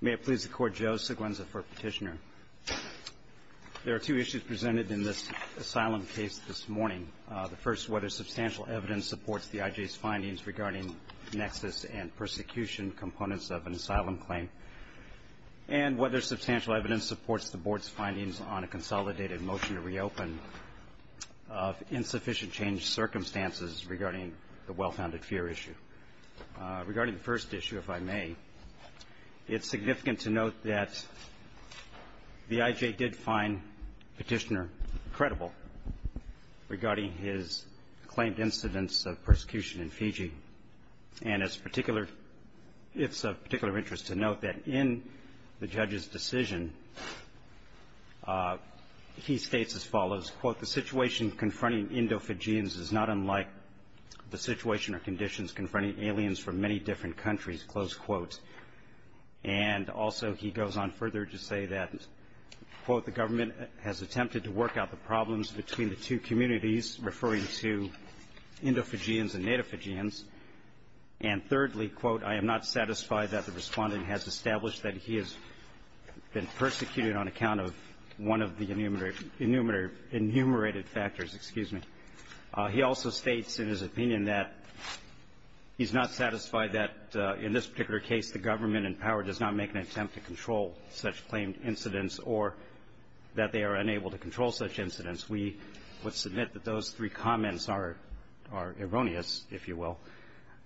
May it please the Court, Joe Seguenza for Petitioner. There are two issues presented in this asylum case this morning. The first, whether substantial evidence supports the IJ's findings regarding nexus and persecution components of an asylum claim, and whether substantial evidence supports the Board's findings on a consolidated motion to reopen of insufficient change circumstances regarding the well-founded fear issue. Regarding the first issue, if I may, it's significant to note that the IJ did find Petitioner credible regarding his claimed incidents of persecution in Fiji. And it's of particular interest to note that in the judge's decision, he states as follows, quote, the situation confronting Indo-Fijians is not unlike the situation or conditions confronting aliens from many different countries, close quote. And also he goes on further to say that, quote, the government has attempted to work out the problems between the two communities, referring to Indo-Fijians and Native Fijians. And thirdly, quote, I am not satisfied that the respondent has established that he has been persecuted on account of one of the enumerated factors, excuse me. He also states in his opinion that he's not satisfied that in this particular case, the government in power does not make an attempt to control such claimed incidents or that they are unable to control such incidents. We would submit that those three comments are erroneous, if you will.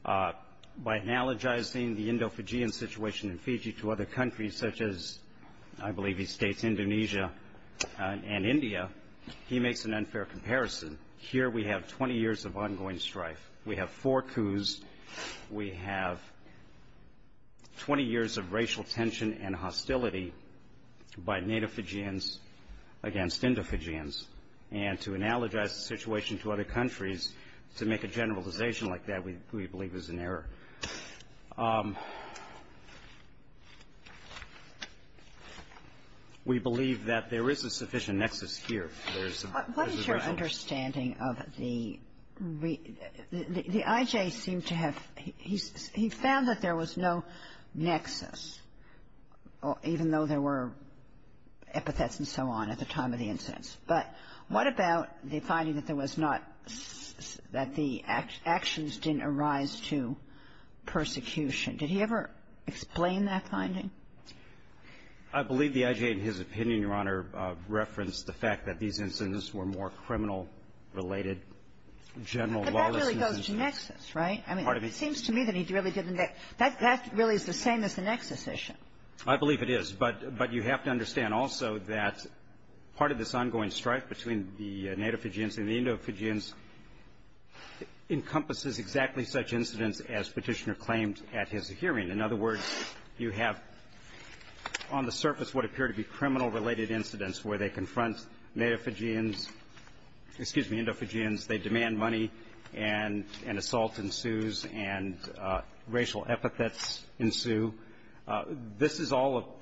By analogizing the Indo-Fijian situation in Fiji to other countries, such as I believe he states Indonesia and India, he makes an unfair comparison. Here we have 20 years of ongoing strife. We have four coups. We have 20 years of racial tension and hostility by Native Fijians against Indo-Fijians. And to analogize the situation to other countries, to make a generalization like that, we believe is an error. We believe that there is a sufficient nexus here. There is a balance. Kagan. What is your understanding of the IJ seemed to have he found that there was no nexus, even though there were epithets and so on at the time of the incidents. But what about the finding that there was not that the actions didn't arise to persecution? Did he ever explain that finding? I believe the IJ, in his opinion, Your Honor, referenced the fact that these incidents were more criminal-related, general lawlessness. But that really goes to nexus, right? It seems to me that he really didn't. That really is the same as the nexus issue. I believe it is. But you have to understand also that part of this ongoing strife between the Native Fijians and the Indo-Fijians encompasses exactly such incidents as Petitioner claimed at his hearing. In other words, you have on the surface what appear to be criminal-related incidents where they confront Native Fijians, excuse me, Indo-Fijians. They demand money, and an assault ensues, and racial epithets ensue. This is all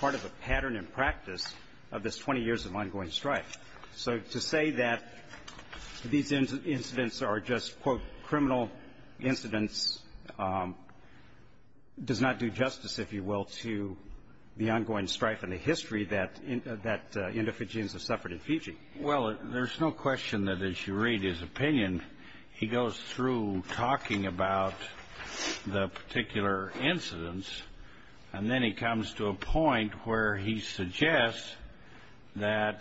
part of a pattern and practice of this 20 years of ongoing strife. So to say that these incidents are just, quote, criminal incidents does not do justice, if you will, to the ongoing strife and the history that Indo-Fijians have suffered in Fiji. Well, there's no question that, as you read his opinion, he goes through talking about the particular incidents, and then he comes to a point where he suggests that,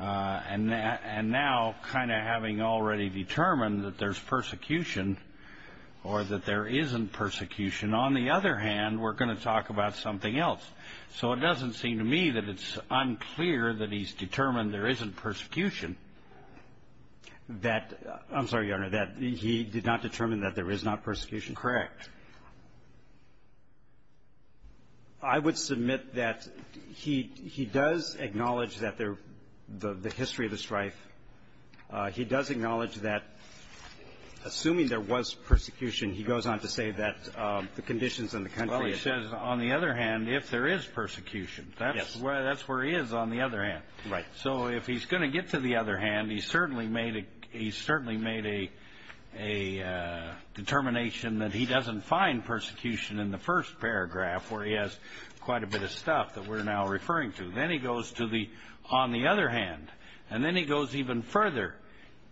and now kind of having already determined that there's persecution or that there isn't persecution, on the other hand, we're going to talk about something else. So it doesn't seem to me that it's unclear that he's determined there isn't persecution. That, I'm sorry, Your Honor, that he did not determine that there is not persecution? Correct. I would submit that he does acknowledge that there the history of the strife. He does acknowledge that, assuming there was persecution, he goes on to say that the conditions in the country are the same. Well, he says, on the other hand, if there is persecution, that's where he is on the other hand. Right. So if he's going to get to the other hand, he certainly made a determination that he doesn't find persecution in the first paragraph, where he has quite a bit of stuff that we're now referring to. Then he goes to the, on the other hand, and then he goes even further.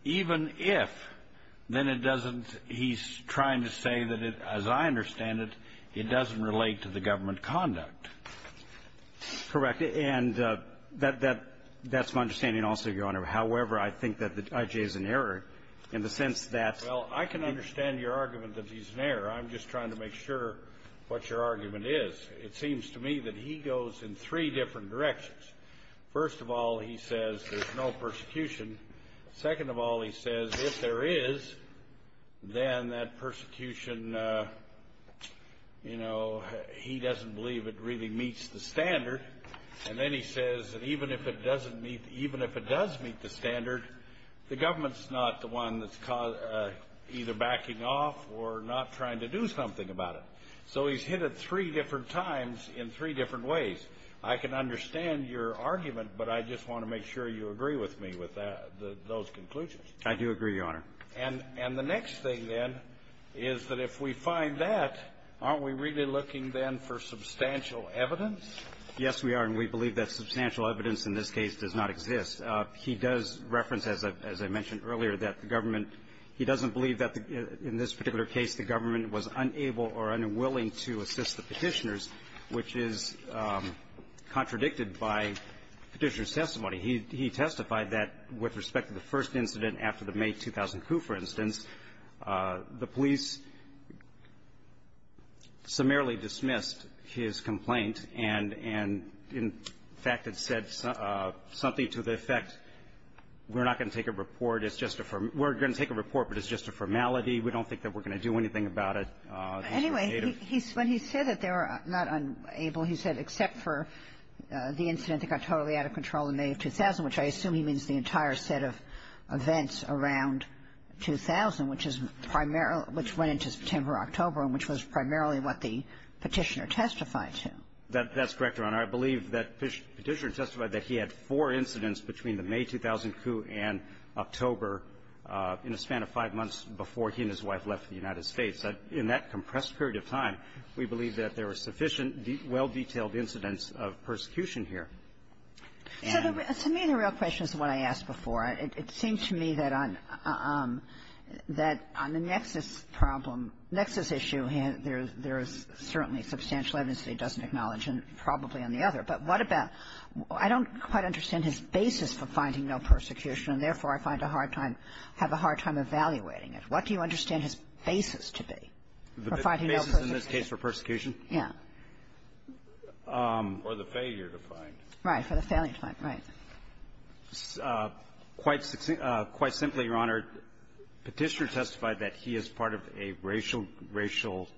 Even if, then it doesn't, he's trying to say that, as I understand it, it doesn't relate to the government conduct. Correct. And that's my understanding also, Your Honor. However, I think that the I.J. is in error in the sense that Well, I can understand your argument that he's in error. I'm just trying to make sure what your argument is. It seems to me that he goes in three different directions. First of all, he says there's no persecution. Second of all, he says if there is, then that persecution, you know, he doesn't believe it really meets the standard. And then he says that even if it doesn't meet, even if it does meet the standard, the government's not the one that's either backing off or not trying to do something about it. So he's hit it three different times in three different ways. I can understand your argument, but I just want to make sure you agree with me with those conclusions. I do agree, Your Honor. And the next thing, then, is that if we find that, aren't we really looking, then, for substantial evidence? Yes, we are, and we believe that substantial evidence in this case does not exist. He does reference, as I mentioned earlier, that the government he doesn't believe that in this particular case the government was unable or unwilling to assist the petitioners, He testified that with respect to the first incident after the May 2002, for instance, the police summarily dismissed his complaint and in fact had said something to the effect we're not going to take a report, it's just a formality, we don't think that we're going to do anything about it. Anyway, when he said that they were not unable, he said except for the incident which I assume he means the entire set of events around 2000, which is primarily which went into September, October, and which was primarily what the petitioner testified to. That's correct, Your Honor. I believe that Petitioner testified that he had four incidents between the May 2002 and October in a span of five months before he and his wife left the United States. In that compressed period of time, we believe that there were sufficient, well-detailed incidents of persecution here. So to me the real question is the one I asked before. It seems to me that on the nexus problem, nexus issue, there is certainly substantial evidence that he doesn't acknowledge, and probably on the other. But what about I don't quite understand his basis for finding no persecution, and therefore I find a hard time, have a hard time evaluating it. What do you understand his basis to be for finding no persecution? The basis in this case for persecution? Yes. Or the failure to find. Right. For the failure to find. Right. Quite simply, Your Honor, Petitioner testified that he is part of a racial, racial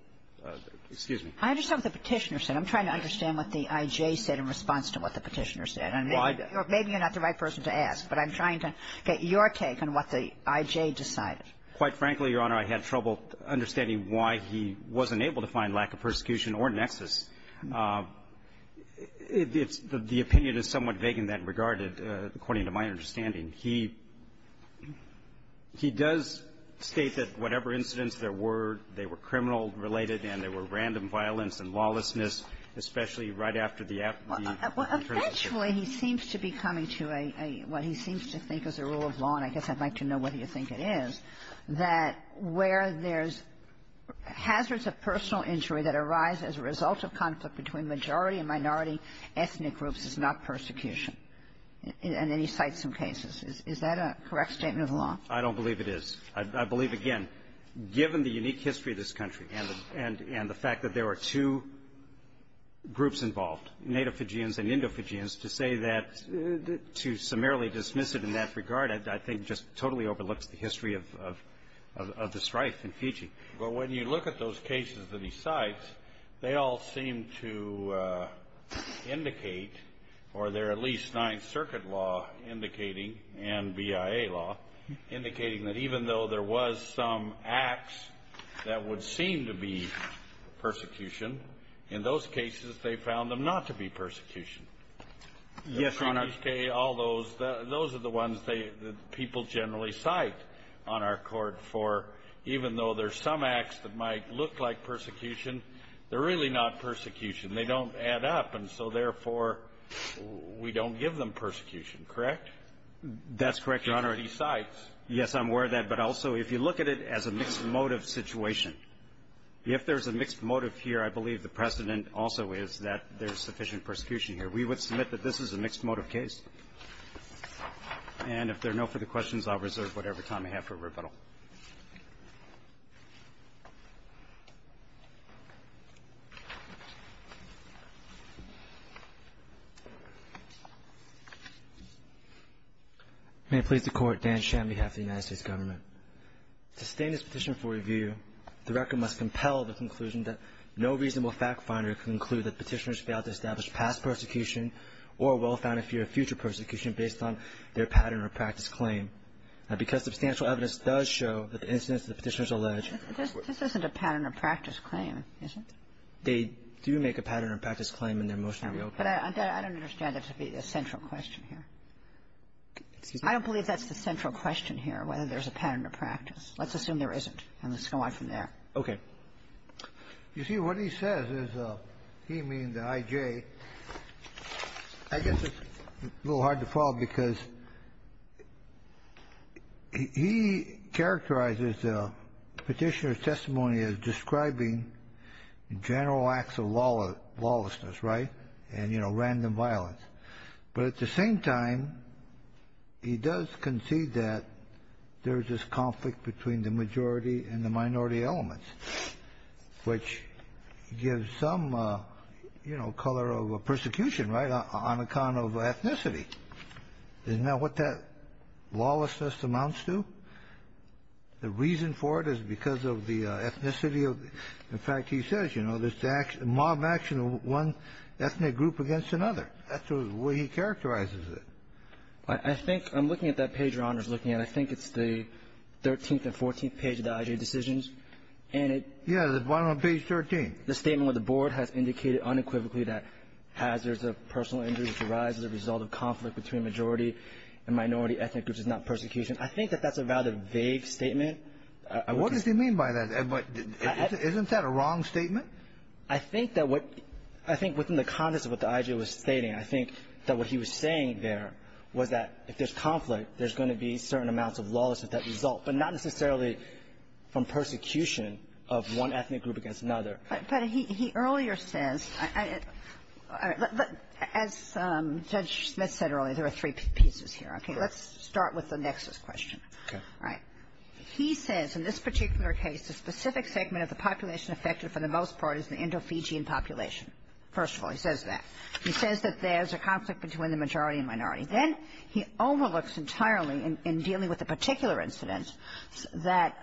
Excuse me. I understand what the Petitioner said. I'm trying to understand what the I.J. said in response to what the Petitioner said. And maybe you're not the right person to ask, but I'm trying to get your take on what the I.J. decided. Quite frankly, Your Honor, I had trouble understanding why he wasn't able to find a lack of persecution or nexus. It's the opinion is somewhat vague in that regard, according to my understanding. He does state that whatever incidents there were, they were criminal-related and there were random violence and lawlessness, especially right after the Well, eventually, he seems to be coming to a what he seems to think is a rule of law, and I guess I'd like to know whether you think it is, that where there's hazards of personal injury that arise as a result of conflict between majority and minority ethnic groups is not persecution. And then he cites some cases. Is that a correct statement of the law? I don't believe it is. I believe, again, given the unique history of this country and the fact that there are two groups involved, native Fijians and Indo-Fijians, to say that to summarily dismiss it in that regard, I think, just totally overlooks the history of the strife in Fiji. But when you look at those cases that he cites, they all seem to indicate, or they're at least Ninth Circuit law indicating and BIA law indicating that even though there was some acts that would seem to be persecution, in those cases, they found them not to be persecution. Yes, Your Honor. All those, those are the ones that people generally cite on our Court for, even though there's some acts that might look like persecution, they're really not persecution. They don't add up. And so, therefore, we don't give them persecution, correct? That's correct, Your Honor. Because he cites. Yes, I'm aware of that. But also, if you look at it as a mixed motive situation, if there's a mixed motive here, I believe the precedent also is that there's sufficient persecution that we would submit that this is a mixed motive case. And if there are no further questions, I'll reserve whatever time I have for rebuttal. May it please the Court. Dan Sham on behalf of the United States Government. To sustain this petition for review, the record must compel the conclusion that no reasonable fact finder can conclude that petitioners failed to establish past persecution or a well-founded fear of future persecution based on their pattern of practice claim. Now, because substantial evidence does show that the incidents that the Petitioners allege. This isn't a pattern of practice claim, is it? They do make a pattern of practice claim in their motion to reopen. But I don't understand it to be a central question here. Excuse me? I don't believe that's the central question here, whether there's a pattern of practice. Let's assume there isn't, and let's go on from there. Okay. You see, what he says is he means the IJ. I guess it's a little hard to follow because he characterizes the Petitioner's testimony as describing general acts of lawlessness, right, and, you know, random violence. But at the same time, he does concede that there's this conflict between the majority and the minority elements, which gives some, you know, color of persecution, right, on account of ethnicity. Isn't that what that lawlessness amounts to? The reason for it is because of the ethnicity. In fact, he says, you know, there's mob action of one ethnic group against another. That's the way he characterizes it. I think I'm looking at that page your Honor is looking at. I think it's the 13th and 14th page of the IJ decisions. And it — Yeah. The one on page 13. The statement where the board has indicated unequivocally that hazards of personal injury which arise as a result of conflict between majority and minority ethnic groups is not persecution. I think that that's a rather vague statement. What does he mean by that? Isn't that a wrong statement? I think that what — I think within the context of what the IJ was stating, I think that what he was saying there was that if there's conflict, there's going to be certain amounts of lawlessness that result, but not necessarily from persecution of one ethnic group against another. But he earlier says, as Judge Smith said earlier, there are three pieces here. Okay. Let's start with the nexus question. Okay. All right. He says in this particular case, the specific segment of the population affected for the most part is the Indo-Fijian population. First of all, he says that. He says that there's a conflict between the majority and minority. Then he overlooks entirely in dealing with the particular incidents that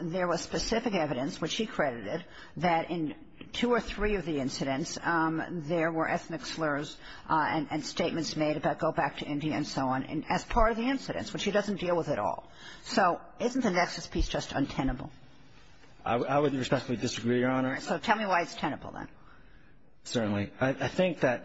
there was specific evidence, which he credited, that in two or three of the incidents there were ethnic slurs and statements made about go back to India and so on as part of the incidents, which he doesn't deal with at all. So isn't the nexus piece just untenable? I would respectfully disagree, Your Honor. So tell me why it's tenable, then. Certainly. I think that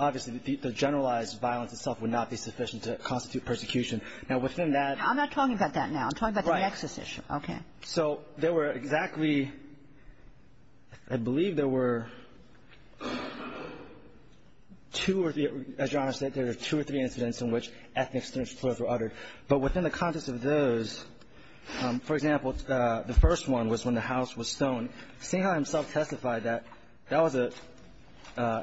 obviously the generalized violence itself would not be sufficient to constitute persecution. Now, within that ---- I'm not talking about that now. I'm talking about the nexus issue. Right. Okay. So there were exactly, I believe there were two or three, as Your Honor said, there were two or three incidents in which ethnic slurs were uttered. But within the context of those, for example, the first one was when the house was stoned, Sinha himself testified that that was an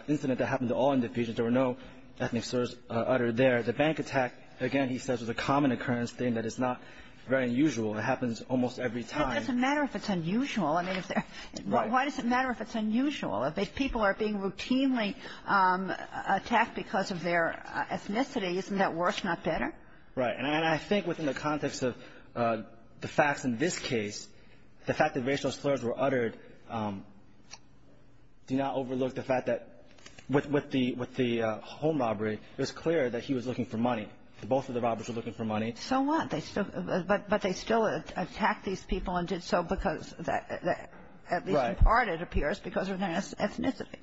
incident that happened to all individuals. There were no ethnic slurs uttered there. The bank attack, again, he says, was a common occurrence thing that is not very unusual. It happens almost every time. It doesn't matter if it's unusual. I mean, if there ---- Right. Why does it matter if it's unusual? If people are being routinely attacked because of their ethnicity, isn't that worse, not better? Right. And I think within the context of the facts in this case, the fact that racial slurs were uttered do not overlook the fact that with the home robbery, it was clear that he was looking for money. Both of the robbers were looking for money. So what? But they still attacked these people and did so because, at least in part, it appears, because of their ethnicity.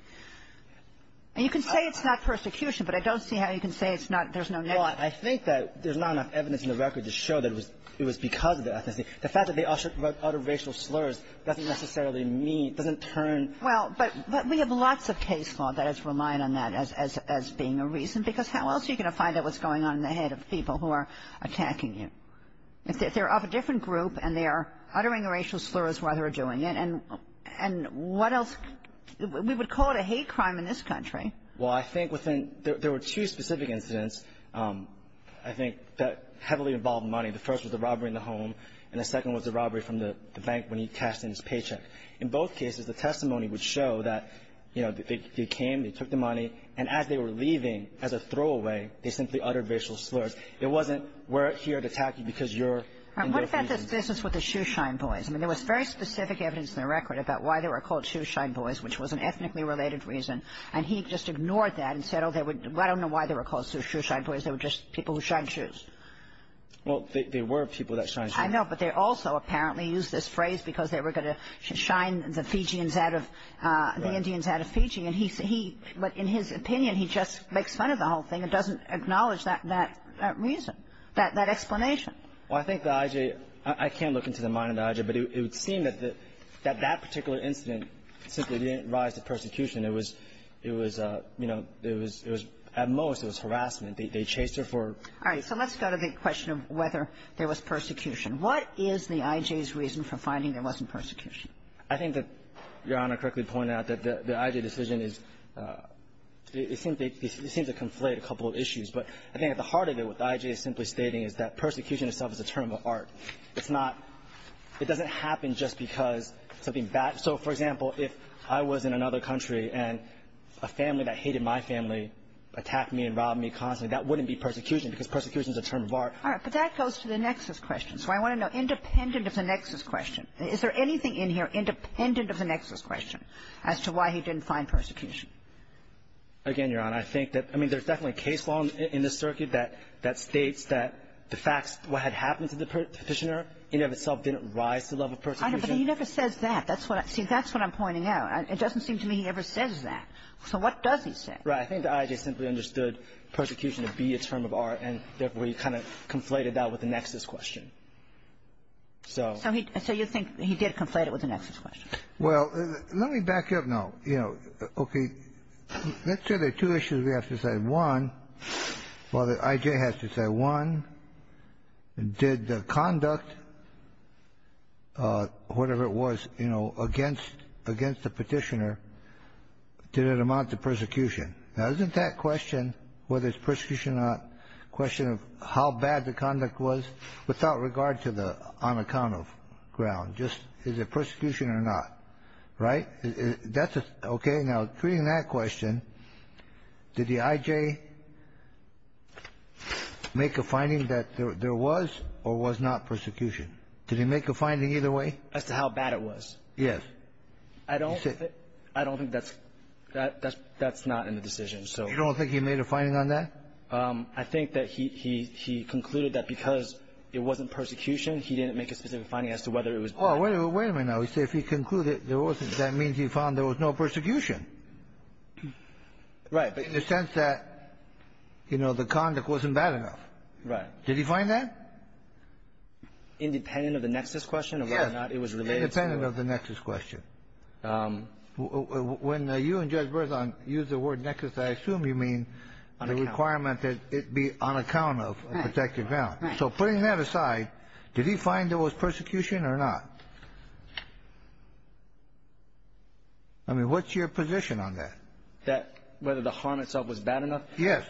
And you can say it's not persecution, but I don't see how you can say it's not ---- Well, I think that there's not enough evidence in the record to show that it was because of their ethnicity. The fact that they uttered racial slurs doesn't necessarily mean, doesn't turn ---- Well, but we have lots of case law that has relied on that as being a reason, because how else are you going to find out what's going on in the head of people who are attacking you? If they're of a different group and they are uttering racial slurs while they're doing it, and what else? We would call it a hate crime in this country. Well, I think within ---- there were two specific incidents, I think, that heavily involved money. The first was the robbery in the home, and the second was the robbery from the bank when he cashed in his paycheck. In both cases, the testimony would show that, you know, they came, they took the money, and as they were leaving, as a throwaway, they simply uttered racial slurs. It wasn't, we're here to attack you because you're ---- All right. What about this business with the Shoeshine Boys? I mean, there was very specific evidence in the record about why they were called I don't know why they were called Shoeshine Boys. They were just people who shined shoes. Well, they were people that shined shoes. I know, but they also apparently used this phrase because they were going to shine the Fijians out of, the Indians out of Fiji. But in his opinion, he just makes fun of the whole thing and doesn't acknowledge that reason, that explanation. Well, I think the IJ, I can't look into the mind of the IJ, but it would seem that that particular incident simply didn't rise to persecution. It was, you know, it was, at most, it was harassment. They chased her for ---- All right. So let's go to the question of whether there was persecution. What is the IJ's reason for finding there wasn't persecution? I think that Your Honor correctly pointed out that the IJ decision is, it seems to conflate a couple of issues. But I think at the heart of it, what the IJ is simply stating is that persecution itself is a term of art. It's not, it doesn't happen just because something bad, so for example, if I was in another country and a family that hated my family attacked me and robbed me constantly, that wouldn't be persecution because persecution is a term of art. All right. But that goes to the nexus question. So I want to know, independent of the nexus question, is there anything in here independent of the nexus question as to why he didn't find persecution? Again, Your Honor, I think that, I mean, there's definitely a case law in this circuit that states that the facts, what had happened to the prisoner in and of itself didn't rise to the level of persecution. But he never says that. That's what I, see, that's what I'm pointing out. It doesn't seem to me he ever says that. So what does he say? Right. I think the IJ simply understood persecution to be a term of art, and therefore he kind of conflated that with the nexus question. So. So you think he did conflate it with the nexus question. Well, let me back up now. You know, okay. Let's say there are two issues we have to say. One, well, the IJ has to say, one, did the conduct, whatever it was, you know, against the Petitioner, did it amount to persecution? Now, isn't that question, whether it's persecution or not, a question of how bad the conduct was without regard to the on account of ground, just is it persecution or not? Right? That's a, okay. Now, treating that question, did the IJ make a finding that there was or was not persecution? Did he make a finding either way? As to how bad it was. Yes. I don't think that's not in the decision. You don't think he made a finding on that? I think that he concluded that because it wasn't persecution, he didn't make a specific finding as to whether it was bad. Well, wait a minute now. He said if he concluded there wasn't, that means he found there was no persecution. Right. In the sense that, you know, the conduct wasn't bad enough. Right. Did he find that? Independent of the nexus question of whether or not it was related to. Independent of the nexus question. When you and Judge Berzon used the word nexus, I assume you mean the requirement that it be on account of a protected ground. Right. So putting that aside, did he find there was persecution or not? I mean, what's your position on that? That whether the harm itself was bad enough? Yes.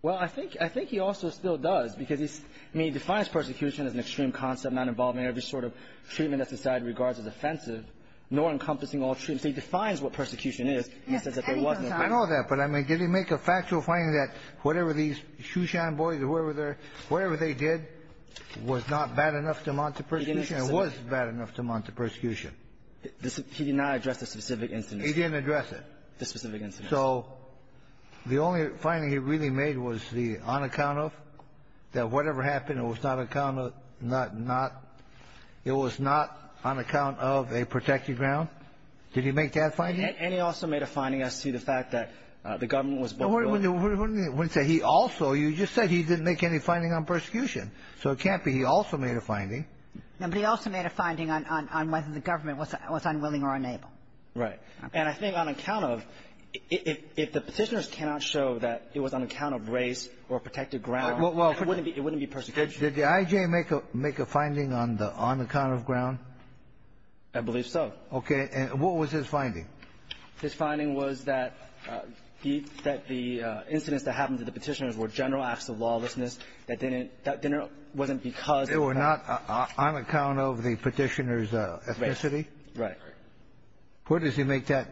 Well, I think he also still does because he's, I mean, he defines persecution as an extreme concept not involving every sort of treatment that society regards as offensive, nor encompassing all treatment. He defines what persecution is. He says that there was no persecution. I know that. But, I mean, did he make a factual finding that whatever these Shushan boys or whoever they're, whatever they did was not bad enough to amount to persecution? He didn't address it. It was bad enough to amount to persecution. He did not address the specific incident. He didn't address it. The specific incident. So the only finding he really made was the on account of, that whatever happened was not on account of, not, not, it was not on account of a protected ground? Did he make that finding? And he also made a finding as to the fact that the government was both willing No. What did he say? He also, you just said he didn't make any finding on persecution. So it can't be he also made a finding. But he also made a finding on whether the government was unwilling or unable. Right. And I think on account of, if the Petitioners cannot show that it was on account of race or protected ground, it wouldn't be persecution. Did the I.J. make a, make a finding on the, on account of ground? I believe so. Okay. And what was his finding? His finding was that he, that the incidents that happened to the Petitioners were general acts of lawlessness that didn't, that didn't, wasn't because They were not on account of the Petitioners' ethnicity? Right. Right. Where does he make that?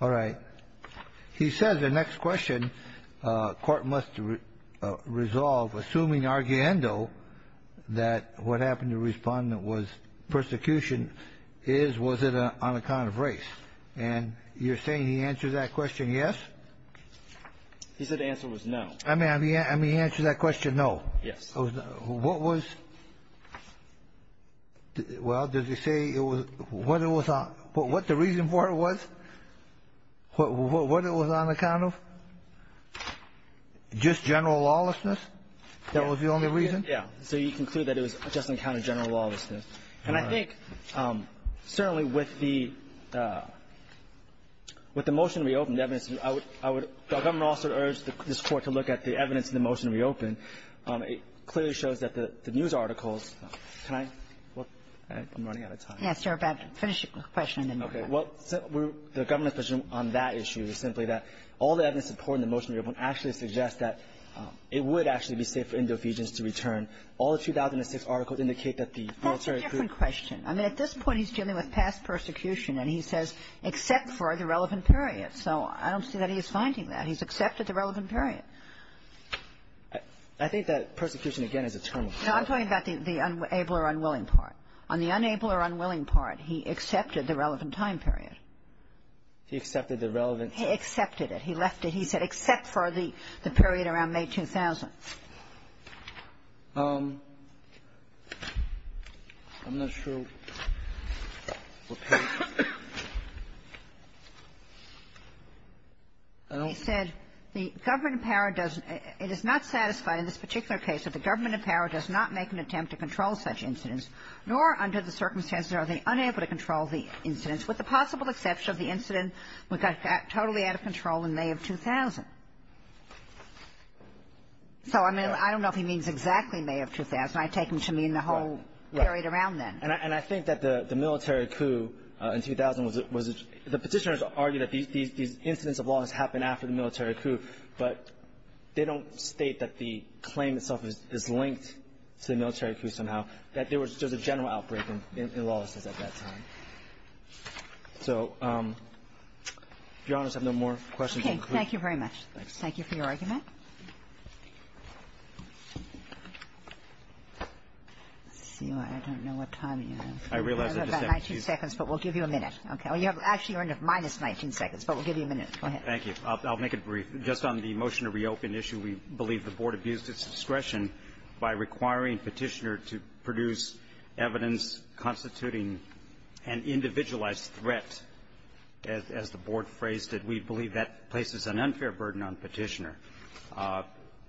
All right. He says the next question, court must resolve, assuming arguendo, that what happened to respondent was persecution is, was it on account of race? And you're saying he answered that question yes? He said the answer was no. I mean, he answered that question no. Yes. What was, well, does he say it was, what it was, what the reason for it was? What it was on account of? Just general lawlessness? That was the only reason? Yeah. So you conclude that it was just on account of general lawlessness. All right. And I think certainly with the, with the motion to reopen, the evidence, I would, I would, I would also urge this Court to look at the evidence in the motion to reopen. It clearly shows that the, the news articles, can I, well, I'm running out of time. Yes, you're about to finish your question. Okay. Well, we're, the government's position on that issue is simply that all the evidence supporting the motion to reopen actually suggests that it would actually be safe for Indo-Eugenes to return. All the 2006 articles indicate that the military could. That's a different question. I mean, at this point, he's dealing with past persecution, and he says, except for the relevant period. So I don't see that he is finding that. He's accepted the relevant period. I think that persecution, again, is a term. No, I'm talking about the, the able or unwilling part. On the unable or unwilling part, he accepted the relevant time period. He accepted the relevant time period. He accepted it. He left it. He said, except for the, the period around May 2000. I'm not sure what page. He said, the government in power does, it is not satisfied in this particular case that the government in power does not make an attempt to control such incidents nor under the circumstances are they unable to control the incidents, with the possible exception of the incident we got totally out of control in May of 2000. So, I mean, I don't know if he means exactly May of 2000. I take him to mean the whole period around then. Right. And I think that the military coup in 2000 was the petitioners argued that these incidents of law has happened after the military coup, but they don't state that the claim itself is linked to the military coup somehow. That there was just a general outbreak in lawlessness at that time. So, Your Honor, I have no more questions. Okay. Thank you very much. Thank you for your argument. Let's see. I don't know what time you have. I realize that the second piece. You have about 19 seconds, but we'll give you a minute. Okay. Actually, you're under minus 19 seconds, but we'll give you a minute. Go ahead. Thank you. I'll make it brief. Just on the motion to reopen issue, we believe the Board abused its discretion by requiring Petitioner to produce evidence constituting an individualized threat, as the Board phrased it. We believe that places an unfair burden on Petitioner.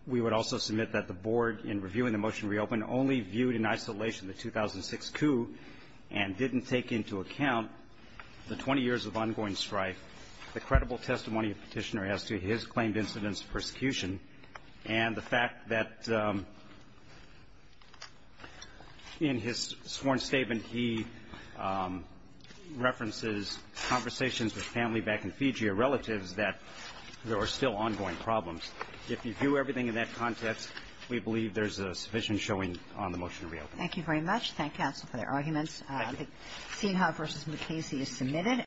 We would also submit that the Board, in reviewing the motion to reopen, only viewed in isolation the 2006 coup and didn't take into account the 20 years of ongoing strife, the credible testimony of Petitioner as to his claimed incidents of persecution, and the fact that, in his sworn statement, he references conversations with family back in Fiji or relatives that there are still ongoing problems. If you view everything in that context, we believe there's sufficient showing on the motion to reopen. Thank you very much. Thank counsel for their arguments. Thank you. The Seahawks v. McCasey is submitted.